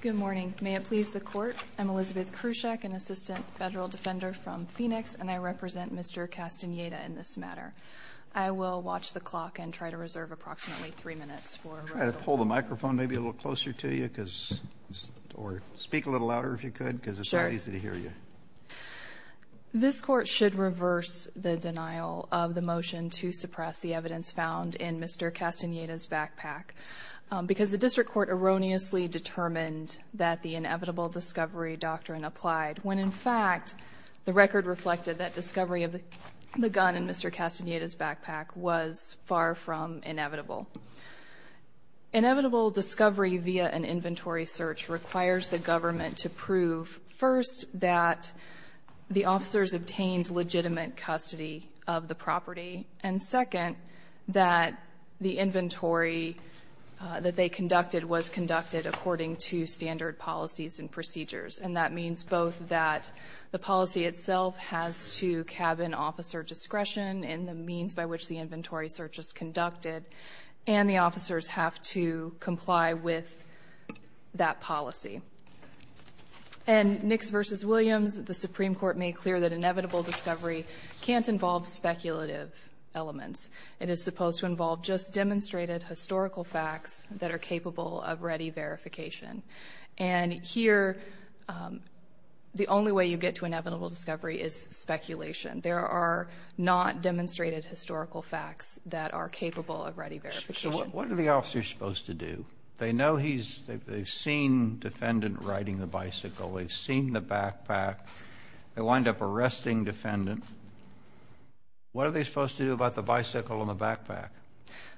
Good morning. May it please the Court, I'm Elizabeth Kruschek, an Assistant Federal Defender from Phoenix, and I represent Mr. Castaneda in this matter. I will watch the clock and try to reserve approximately three minutes. Try to pull the microphone maybe a little closer to you, or speak a little louder if you could, because it's not easy to hear you. This Court should reverse the denial of the motion to suppress the evidence found in Mr. Castaneda's backpack. Because the district court erroneously determined that the inevitable discovery doctrine applied, when in fact, the record reflected that discovery of the gun in Mr. Castaneda's backpack was far from inevitable. Inevitable discovery via an inventory search requires the government to prove, first, that the officers obtained legitimate custody of the property, and, second, that the inventory that they conducted was conducted according to standard policies and procedures. And that means both that the policy itself has to cabin officer discretion in the means by which the inventory search is conducted, and the officers have to comply with that policy. In Nix v. Williams, the Supreme Court made clear that inevitable discovery can't involve speculative elements. It is supposed to involve just demonstrated historical facts that are capable of ready verification. And here, the only way you get to inevitable discovery is speculation. There are not demonstrated historical facts that are capable of ready verification. So what are the officers supposed to do? They know he's seen defendant riding the bicycle. They've seen the backpack. They wind up arresting defendant. What are they supposed to do about the bicycle and the backpack?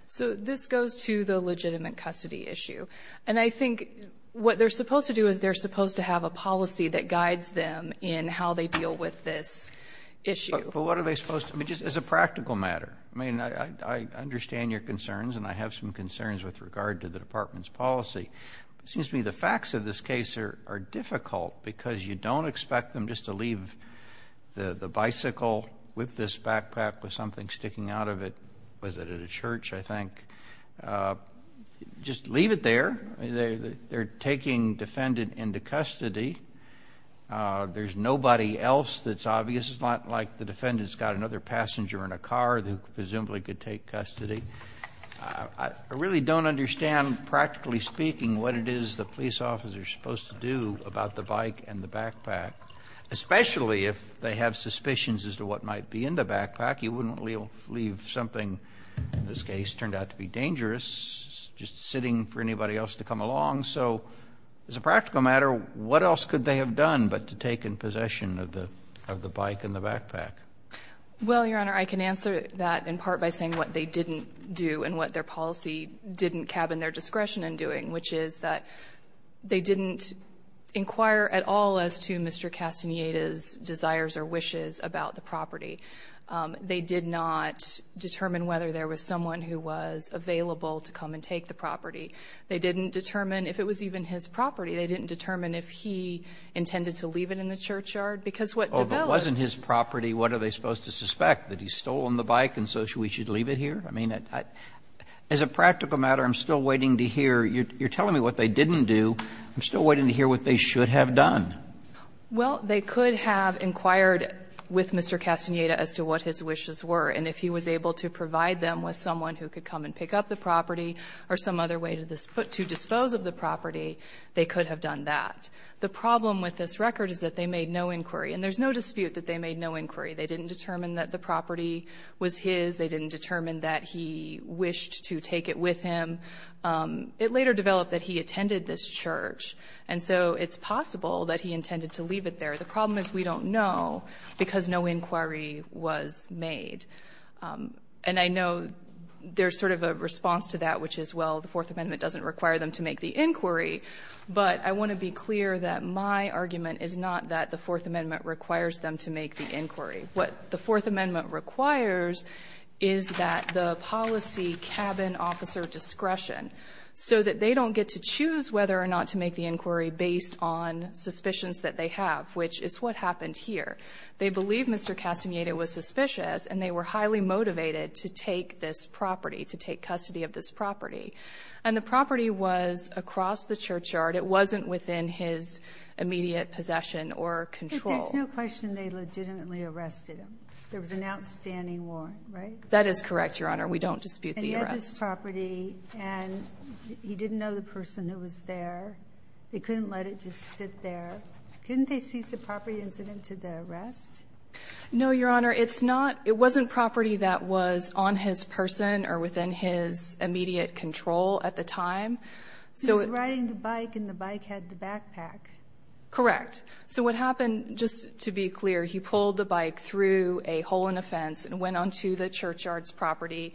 So this goes to the legitimate custody issue. And I think what they're supposed to do is they're supposed to have a policy that guides them in how they deal with this issue. But what are they supposed to do? I mean, just as a practical matter, I mean, I understand your concerns, and I have some concerns with regard to the Department's policy. It seems to me the facts of this case are difficult because you don't expect them just to leave the bicycle with this backpack with something sticking out of it. Was it at a church, I think? Just leave it there. They're taking defendant into custody. There's nobody else that's obvious. It's not like the defendant's got another passenger in a car who presumably could take custody. I really don't understand, practically speaking, what it is the police officer is supposed to do about the bike and the backpack, especially if they have suspicions as to what might be in the backpack. You wouldn't leave something in this case turned out to be dangerous just sitting for anybody else to come along. So as a practical matter, what else could they have done but to take in possession of the bike and the backpack? Well, Your Honor, I can answer that in part by saying what they didn't do and what their policy didn't cabin their discretion in doing, which is that they didn't inquire at all as to Mr. Castaneda's desires or wishes about the property. They did not determine whether there was someone who was available to come and take the property. They didn't determine if it was even his property. They didn't determine if he intended to leave it in the churchyard, because what developed Oh, but if it wasn't his property, what are they supposed to suspect, that he stole the bike and so we should leave it here? I mean, as a practical matter, I'm still waiting to hear. You're telling me what they didn't do. I'm still waiting to hear what they should have done. Well, they could have inquired with Mr. Castaneda as to what his wishes were. And if he was able to provide them with someone who could come and pick up the property or some other way to dispose of the property, they could have done that. The problem with this record is that they made no inquiry. And there's no dispute that they made no inquiry. They didn't determine that the property was his. They didn't determine that he wished to take it with him. It later developed that he attended this church. And so it's possible that he intended to leave it there. The problem is we don't know, because no inquiry was made. And I know there's sort of a response to that, which is, well, the Fourth Amendment doesn't require them to make the inquiry. But I want to be clear that my argument is not that the Fourth Amendment requires them to make the inquiry. What the Fourth Amendment requires is that the policy cabin officer discretion so that they don't get to choose whether or not to make the inquiry based on suspicions that they have, which is what happened here. They believe Mr. Castaneda was suspicious, and they were highly motivated to take this property, to take custody of this property. And the property was across the churchyard. It wasn't within his immediate possession or control. But there's no question they legitimately arrested him. There was an outstanding warrant, right? That is correct, Your Honor. We don't dispute the arrest. And he didn't know the person who was there. They couldn't let it just sit there. Couldn't they cease the property incident to the arrest? No, Your Honor. It's not. It wasn't property that was on his person or within his immediate control at the time. He was riding the bike, and the bike had the backpack. Correct. So what happened, just to be clear, he pulled the bike through a hole in a fence and went on to the churchyard's property,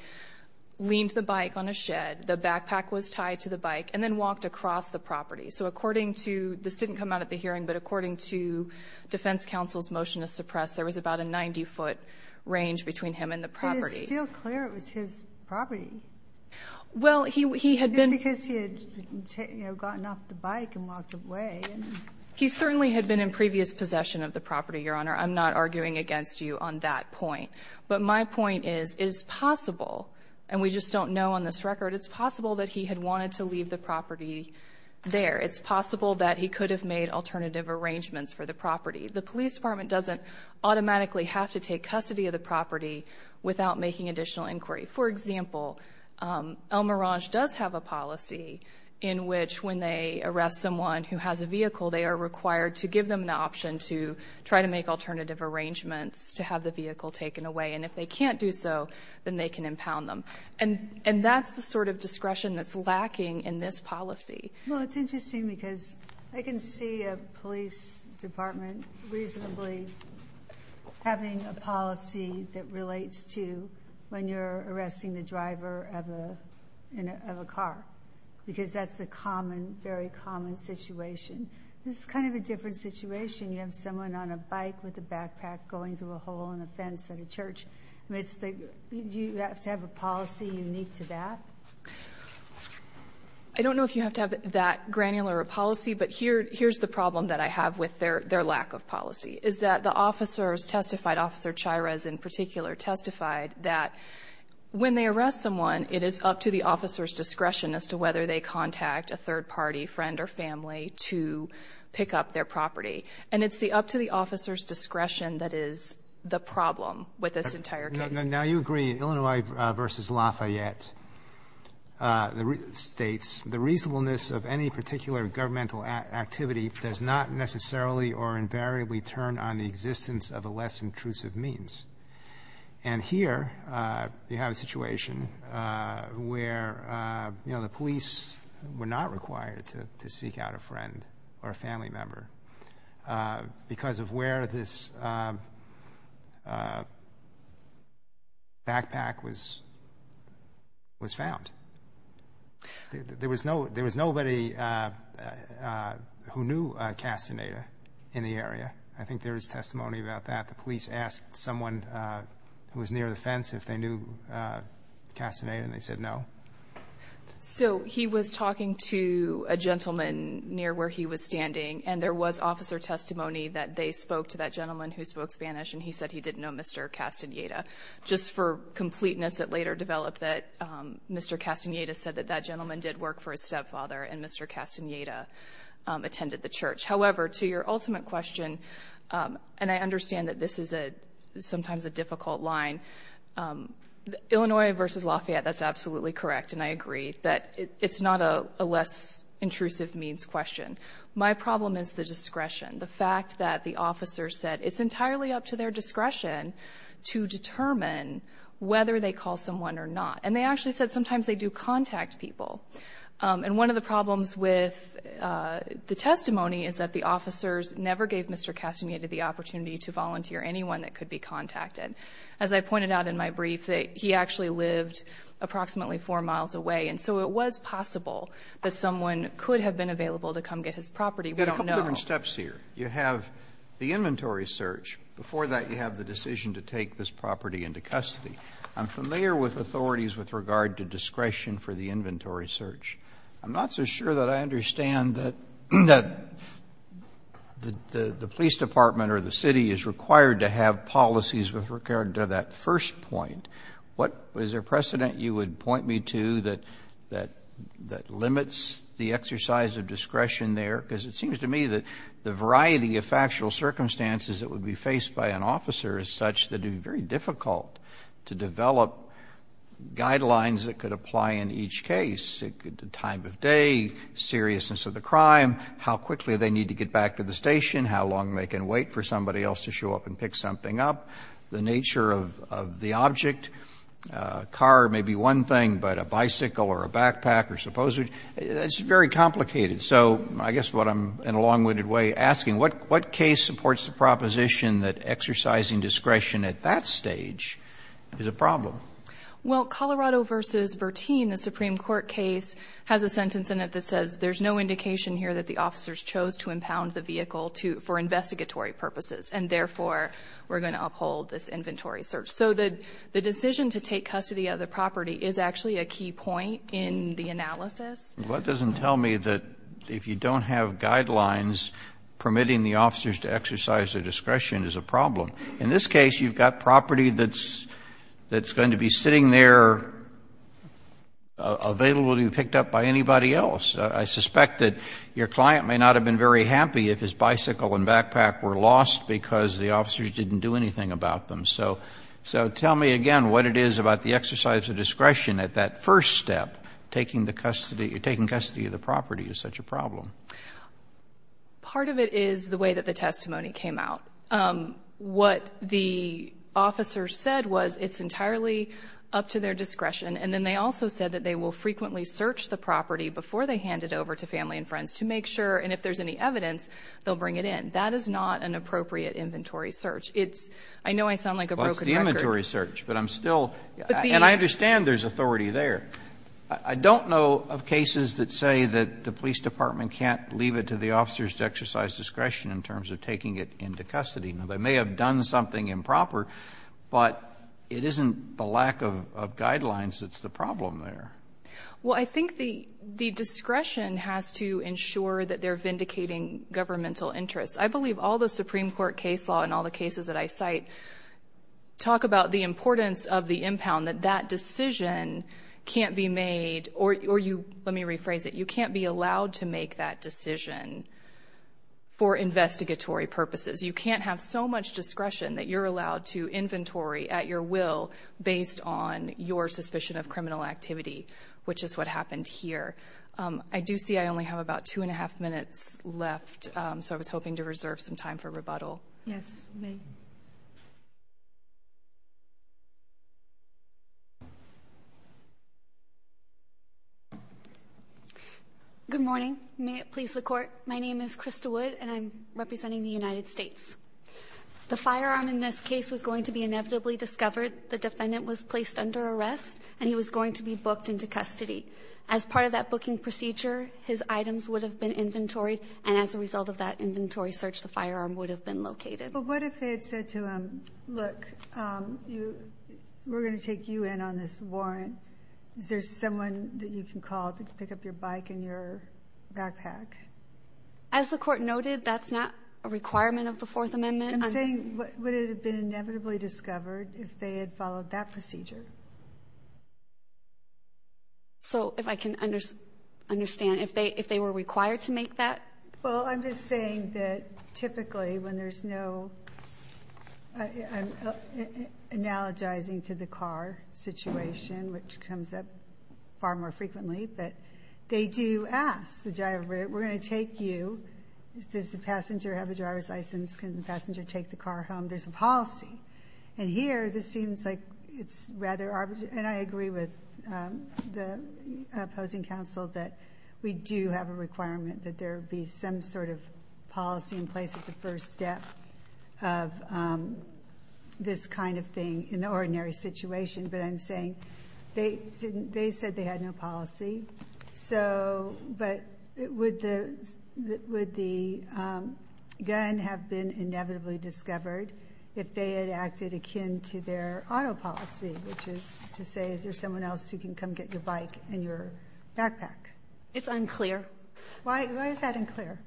leaned the bike on a shed, the backpack was tied to the bike, and then walked across the property. So according to this didn't come out at the hearing, but according to defense counsel's motion to suppress, there was about a 90-foot range between him and the property. But it's still clear it was his property. Well, he had been. Just because he had, you know, gotten off the bike and walked away. He certainly had been in previous possession of the property, Your Honor. I'm not arguing against you on that point. But my point is, it's possible, and we just don't know on this record, it's possible that he had wanted to leave the property there. It's possible that he could have made alternative arrangements for the property. The police department doesn't automatically have to take custody of the property without making additional inquiry. For example, El Mirage does have a policy in which when they arrest someone who has a vehicle, they are required to give them the option to try to make a way. And if they can't do so, then they can impound them. And that's the sort of discretion that's lacking in this policy. Well, it's interesting because I can see a police department reasonably having a policy that relates to when you're arresting the driver of a car, because that's a common, very common situation. This is kind of a different situation. You have someone on a bike with a backpack going through a hole in a fence at a church. Do you have to have a policy unique to that? I don't know if you have to have that granular of policy, but here's the problem that I have with their lack of policy, is that the officers testified, Officer Chires in particular testified, that when they arrest someone, it is up to the officer's discretion as to whether they contact a third party, friend or family, to pick up their property. And it's the up to the officer's discretion that is the problem with this entire case. Now you agree, Illinois v. Lafayette states, the reasonableness of any particular governmental activity does not necessarily or invariably turn on the existence of a less intrusive means. And here you have a situation where, you know, the police were not required to seek out a friend or a family member because of where this backpack was found. There was nobody who knew Castaneda in the area. I think there is testimony about that. The police asked someone who was near the fence if they knew Castaneda and they said no. So he was talking to a gentleman near where he was standing and there was officer testimony that they spoke to that gentleman who spoke Spanish and he said he didn't know Mr. Castaneda. Just for completeness that later developed that Mr. Castaneda said that that gentleman did work for his stepfather and Mr. Castaneda attended the church. However, to your ultimate question, and I understand that this is a sometimes a difficult line, Illinois versus Lafayette, that's absolutely correct. And I agree that it's not a less intrusive means question. My problem is the discretion. The fact that the officer said it's entirely up to their discretion to determine whether they call someone or not. And they actually said sometimes they do contact people. And one of the problems with the testimony is that the officers never gave Mr. Castaneda the opportunity to volunteer anyone that could be contacted. As I pointed out in my brief, he actually lived approximately four miles away. And so it was possible that someone could have been available to come get his We don't know. You have the inventory search. Before that, you have the decision to take this property into custody. I'm familiar with authorities with regard to discretion for the inventory search. I'm not so sure that I understand that the police department or the city is required to have policies with regard to that first point. Is there precedent you would point me to that limits the exercise of discretion there? Because it seems to me that the variety of factual circumstances that would be faced by an officer is such that it would be very difficult to develop guidelines that could apply in each case, the time of day, seriousness of the crime, how quickly they need to get back to the station, how long they can wait for somebody else to show up and pick something up, the nature of the object. A car may be one thing, but a bicycle or a backpack or supposed to be, it's very complicated. So I guess what I'm, in a long-winded way, asking, what case supports the proposition that exercising discretion at that stage is a problem? Well, Colorado v. Vertine, the Supreme Court case, has a sentence in it that says there's no indication here that the officers chose to impound the vehicle for investigatory purposes, and therefore, we're going to uphold this inventory search. So the decision to take custody of the property is actually a key point in the analysis. Well, that doesn't tell me that if you don't have guidelines, permitting the officers to exercise their discretion is a problem. In this case, you've got property that's going to be sitting there, available to be picked up by anybody else. I suspect that your client may not have been very happy if his bicycle and backpack were lost because the officers didn't do anything about them. So tell me again what it is about the exercise of discretion at that first step, taking the custody, taking custody of the property is such a problem. Part of it is the way that the testimony came out. What the officers said was it's entirely up to their discretion. And then they also said that they will frequently search the property before they hand it over to family and friends to make sure, and if there's any evidence, they'll bring it in. That is not an appropriate inventory search. It's – I know I sound like a broken record. Well, it's the inventory search, but I'm still – and I understand there's authority there. I don't know of cases that say that the police department can't leave it to the officers to exercise discretion in terms of taking it into custody. They may have done something improper, but it isn't the lack of guidelines that's the problem there. Well, I think the discretion has to ensure that they're vindicating governmental interests. I believe all the Supreme Court case law and all the cases that I cite talk about the importance of the impound, that that decision can't be made – or you – let me rephrase it. You can't be allowed to make that decision for investigatory purposes. You can't have so much discretion that you're allowed to inventory at your will based on your suspicion of criminal activity, which is what happened here. I do see I only have about two and a half minutes left, so I was hoping to reserve some time for rebuttal. Yes, ma'am. Good morning. May it please the Court. My name is Krista Wood, and I'm representing the United States. The firearm in this case was going to be inevitably discovered. The defendant was placed under arrest, and he was going to be booked into custody. As part of that booking procedure, his items would have been inventoried, and as a result of that inventory search, the firearm would have been located. But what if they had said to him, look, we're going to take you in on this warrant. Is there someone that you can call to pick up your bike and your backpack? As the Court noted, that's not a requirement of the Fourth Amendment. I'm saying would it have been inevitably discovered if they had followed that procedure? So if I can understand, if they were required to make that? Well, I'm just saying that typically when there's no analogizing to the car situation, which comes up far more frequently, but they do ask the driver, we're going to take you. Does the passenger have a driver's license? Can the passenger take the car home? There's a policy. And here, this seems like it's rather arbitrary, and I agree with the opposing counsel that we do have a requirement that there be some sort of policy in place at the first step of this kind of thing in the ordinary situation. But I'm saying they said they had no policy. So but would the gun have been inevitably discovered if they had acted akin to their auto policy, which is to say is there someone else who can come get your bike and your backpack? It's unclear. Why is that unclear?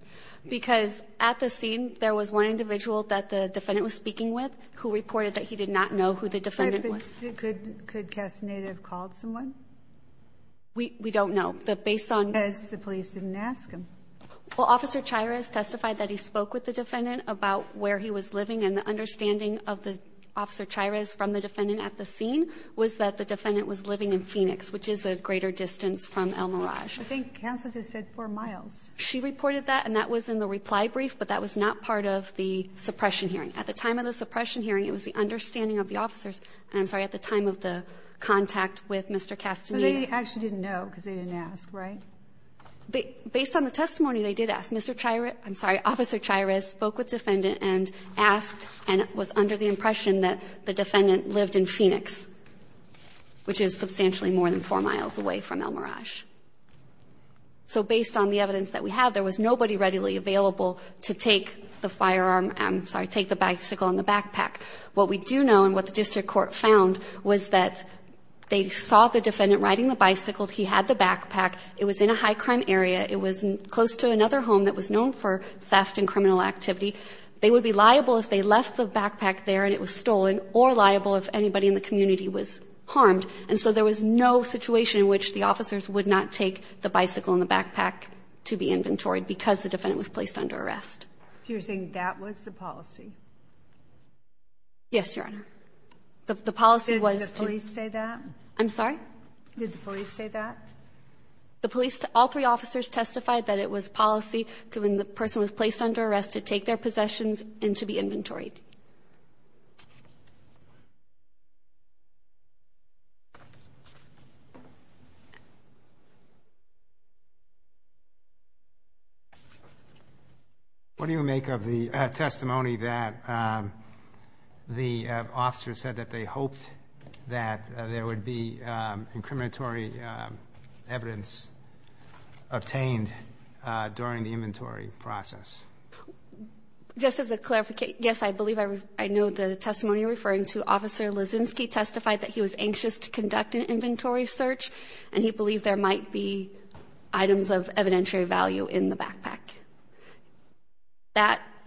Because at the scene, there was one individual that the defendant was speaking with who reported that he did not know who the defendant was. Could Castaneda have called someone? We don't know. But based on the case, the police didn't ask him. Well, Officer Chires testified that he spoke with the defendant about where he was living, and the understanding of Officer Chires from the defendant at the scene was that the defendant was living in Phoenix, which is a greater distance from El Mirage. I think counsel just said 4 miles. She reported that, and that was in the reply brief, but that was not part of the suppression hearing. At the time of the suppression hearing, it was the understanding of the officers and I'm sorry, at the time of the contact with Mr. Castaneda. But they actually didn't know because they didn't ask, right? Based on the testimony, they did ask. Mr. Chires, I'm sorry, Officer Chires spoke with the defendant and asked and was under the impression that the defendant lived in Phoenix, which is substantially more than 4 miles away from El Mirage. So based on the evidence that we have, there was nobody readily available to take the firearm, I'm sorry, take the bicycle and the backpack. What we do know and what the district court found was that they saw the defendant riding the bicycle, he had the backpack, it was in a high crime area, it was close to another home that was known for theft and criminal activity. They would be liable if they left the backpack there and it was stolen or liable if anybody in the community was harmed. And so there was no situation in which the officers would not take the bicycle and the backpack to be inventoried because the defendant was placed under arrest. So you're saying that was the policy? Yes, Your Honor. The policy was to ---- Did the police say that? I'm sorry? Did the police say that? The police, all three officers testified that it was policy to when the person was placed under arrest to take their possessions and to be inventoried. Thank you. What do you make of the testimony that the officers said that they hoped that there would be incriminatory evidence obtained during the inventory process? Just as a clarification, yes, I believe I know the testimony you're referring to, Officer Lazinski testified that he was anxious to conduct an inventory search and he believed there might be items of evidentiary value in the backpack.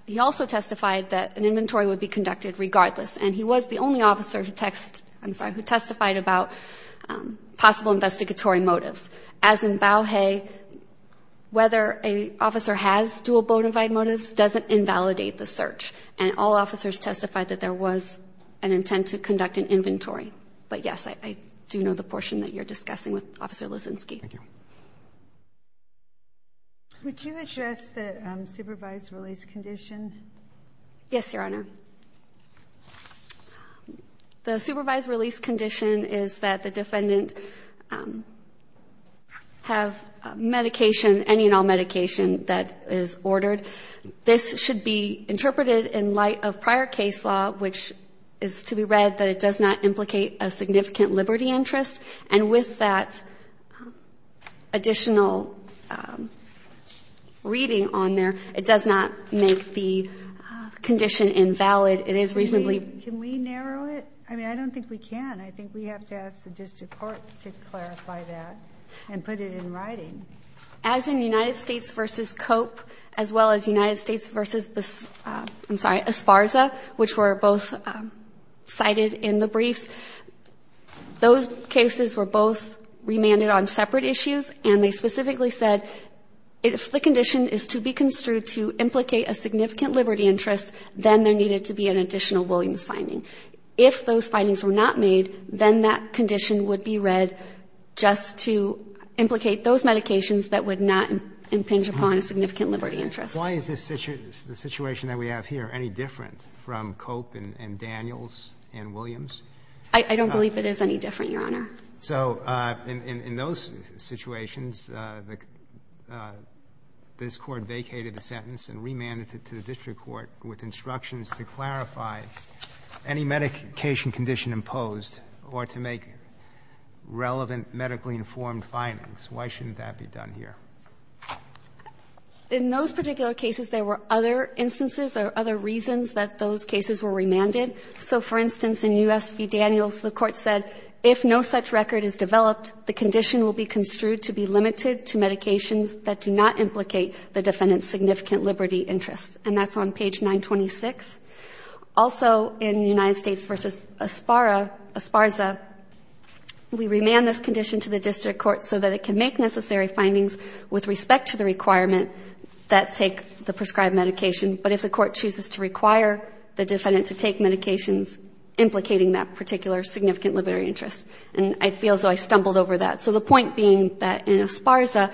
He also testified that an inventory would be conducted regardless, and he was the only officer who testified about possible investigatory motives. As in Bowhay, whether an officer has dual bona fide motives doesn't invalidate the search, and all officers testified that there was an intent to conduct an inventory. But, yes, I do know the portion that you're discussing with Officer Lazinski. Thank you. Would you address the supervised release condition? Yes, Your Honor. The supervised release condition is that the defendant have medication, any and all medication that is ordered. This should be interpreted in light of prior case law, which is to be read that it does not implicate a significant liberty interest, and with that additional reading on there, it does not make the condition invalid. It is reasonably. Can we narrow it? I mean, I don't think we can. I think we have to ask the district court to clarify that and put it in writing. As in United States v. Cope, as well as United States v. Asparza, which were both cited in the briefs, those cases were both remanded on separate issues, and they specifically said if the condition is to be construed to implicate a significant liberty interest, then there needed to be an additional Williams finding. If those findings were not made, then that condition would be read just to implicate those medications that would not impinge upon a significant liberty interest. Why is this situation that we have here any different from Cope and Daniels and Williams? I don't believe it is any different, Your Honor. So in those situations, this Court vacated the sentence and remanded it to the district court with instructions to clarify any medication condition imposed or to make relevant medically informed findings. Why shouldn't that be done here? In those particular cases, there were other instances or other reasons that those cases were remanded. So for instance, in U.S. v. Daniels, the Court said, If no such record is developed, the condition will be construed to be limited to medications that do not implicate the defendant's significant liberty interest. And that's on page 926. Also in United States v. Asparza, we remand this condition to the district court so that it can make necessary findings with respect to the requirement that take the prescribed medication. But if the Court chooses to require the defendant to take medications implicating that particular significant liberty interest, and I feel as though I stumbled over that. So the point being that in Asparza,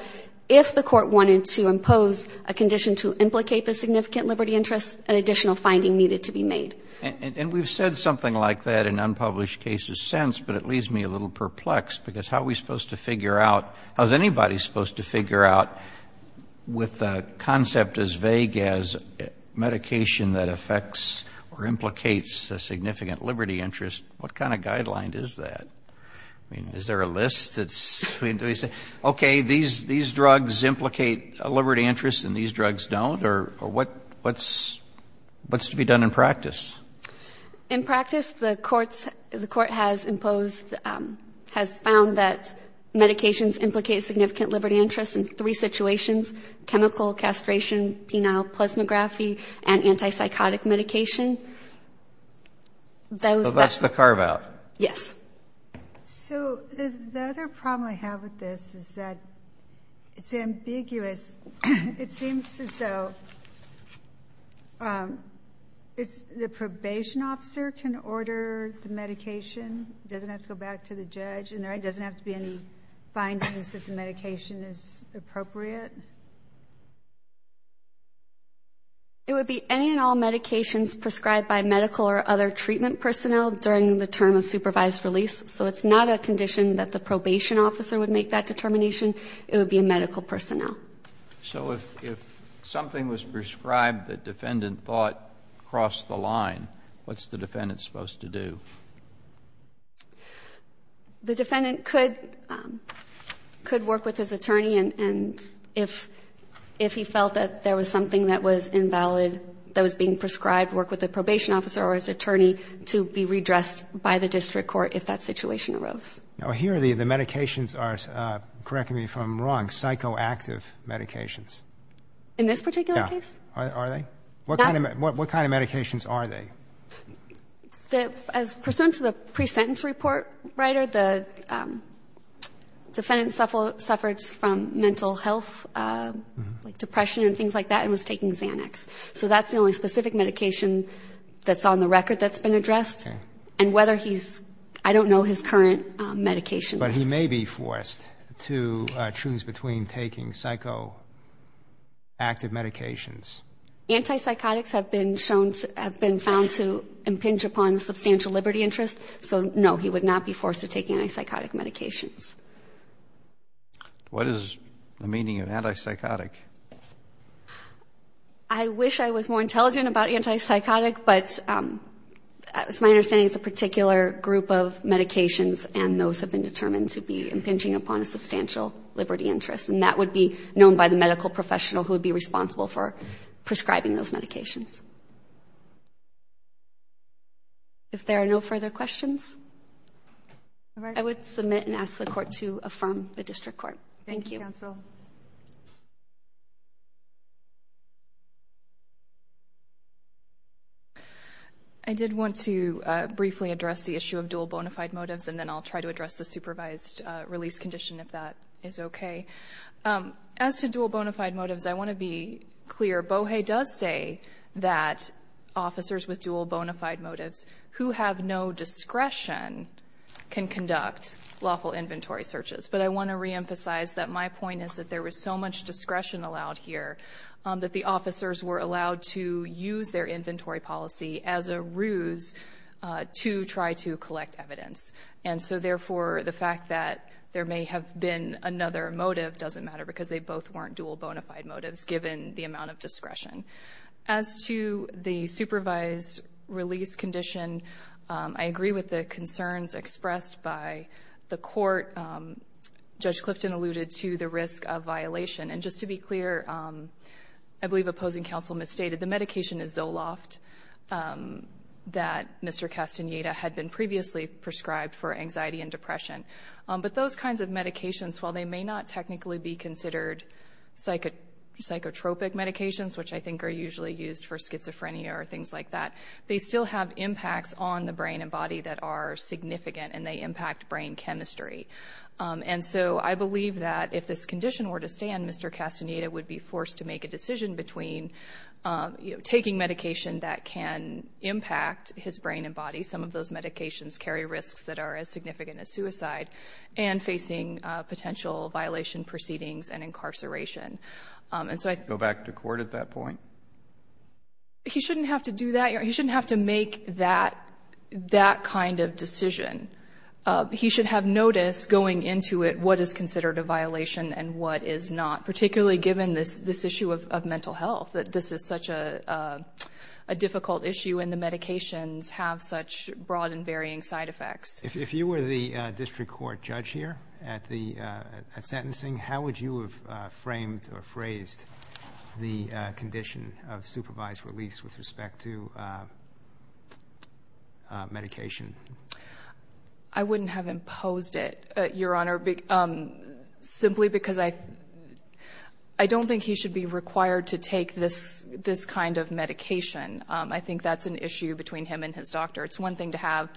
if the Court wanted to impose a condition to implicate the significant liberty interest, an additional finding needed to be made. And we've said something like that in unpublished cases since, but it leaves me a little perplexed, because how are we supposed to figure out, how is anybody supposed to figure out with a concept as vague as medication that affects or implicates a significant liberty interest, what kind of guideline is that? I mean, is there a list that's, okay, these drugs implicate a liberty interest and these drugs don't, or what's to be done in practice? In practice, the courts, the Court has imposed, has found that medications implicate a significant liberty interest in three situations, chemical, castration, penile, plasmagraphy, and antipsychotic medication. Roberts. That's the carve-out. Yes. Ginsburg. So the other problem I have with this is that it's ambiguous. It seems as though it's the probation officer can order the medication, doesn't have to go back to the judge, and there doesn't have to be any findings that the medication is appropriate? It would be any and all medications prescribed by medical or other treatment personnel during the term of supervised release. So it's not a condition that the probation officer would make that determination. It would be a medical personnel. So if something was prescribed that defendant thought crossed the line, what's the defendant supposed to do? The defendant could work with his attorney, and if he felt that there was something that was invalid that was being prescribed, work with the probation officer or his attorney to be redressed by the district court if that situation arose. Now, here the medications are, correct me if I'm wrong, psychoactive medications. In this particular case? Yes. Are they? What kind of medications are they? As pursuant to the pre-sentence report, Ryder, the defendant suffered from mental health, like depression and things like that and was taking Xanax. So that's the only specific medication that's on the record that's been addressed. Okay. And whether he's ‑‑ I don't know his current medication list. But he may be forced to choose between taking psychoactive medications. Antipsychotics have been shown to ‑‑ have been found to impinge upon a substantial liberty interest. So, no, he would not be forced to take antipsychotic medications. What is the meaning of antipsychotic? I wish I was more intelligent about antipsychotic. But it's my understanding it's a particular group of medications, and those have been determined to be impinging upon a substantial liberty interest. And that would be known by the medical professional who would be responsible for prescribing those medications. If there are no further questions, I would submit and ask the court to affirm the district Thank you. Thank you, counsel. I did want to briefly address the issue of dual bona fide motives, and then I'll try to address the supervised release condition if that is okay. As to dual bona fide motives, I want to be clear. BOHE does say that officers with dual bona fide motives who have no discretion can conduct lawful inventory searches. But I want to reemphasize that my point is that there was so much discretion allowed here that the officers were allowed to use their inventory policy as a ruse to try to collect evidence. And so, therefore, the fact that there may have been another motive doesn't matter because they both weren't dual bona fide motives given the amount of discretion. As to the supervised release condition, I agree with the concerns expressed by the court. Judge Clifton alluded to the risk of violation. And just to be clear, I believe opposing counsel misstated the medication is Zoloft that Mr. Castaneda had been previously prescribed for anxiety and depression. But those kinds of medications, while they may not technically be considered psychotropic medications, which I think are usually used for schizophrenia or things like that, they still have impacts on the brain and body that are significant, and they impact brain chemistry. And so I believe that if this condition were to stand, Mr. Castaneda would be forced to make a decision between, you know, taking medication that can impact his brain and body, some of those medications carry risks that are as significant as suicide, and facing potential violation proceedings and incarceration. And so I think Go back to court at that point? He shouldn't have to do that. He shouldn't have to make that kind of decision. He should have notice going into it what is considered a violation and what is not, particularly given this issue of mental health, that this is such a difficult issue and the medications have such broad and varying side effects. If you were the district court judge here at sentencing, how would you have framed or phrased the condition of supervised release with respect to medication? I wouldn't have imposed it, Your Honor, simply because I don't think he should be required to take this kind of medication. I think that's an issue between him and his doctor. It's one thing to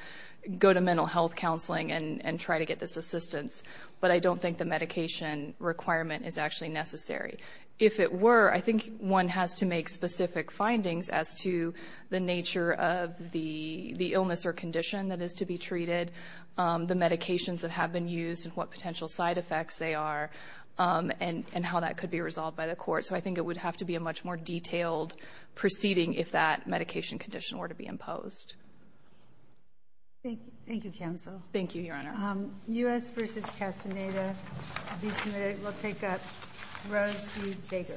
go to mental health counseling and try to get this assistance, but I don't think the medication requirement is actually necessary. If it were, I think one has to make specific findings as to the nature of the illness or condition that is to be treated, the medications that have been used and what potential side effects they are, and how that could be resolved by the court. So I think it would have to be a much more detailed proceeding if that medication condition were to be imposed. Thank you, counsel. Thank you, Your Honor. U.S. v. Castaneda. We'll take up Rose E. Baker.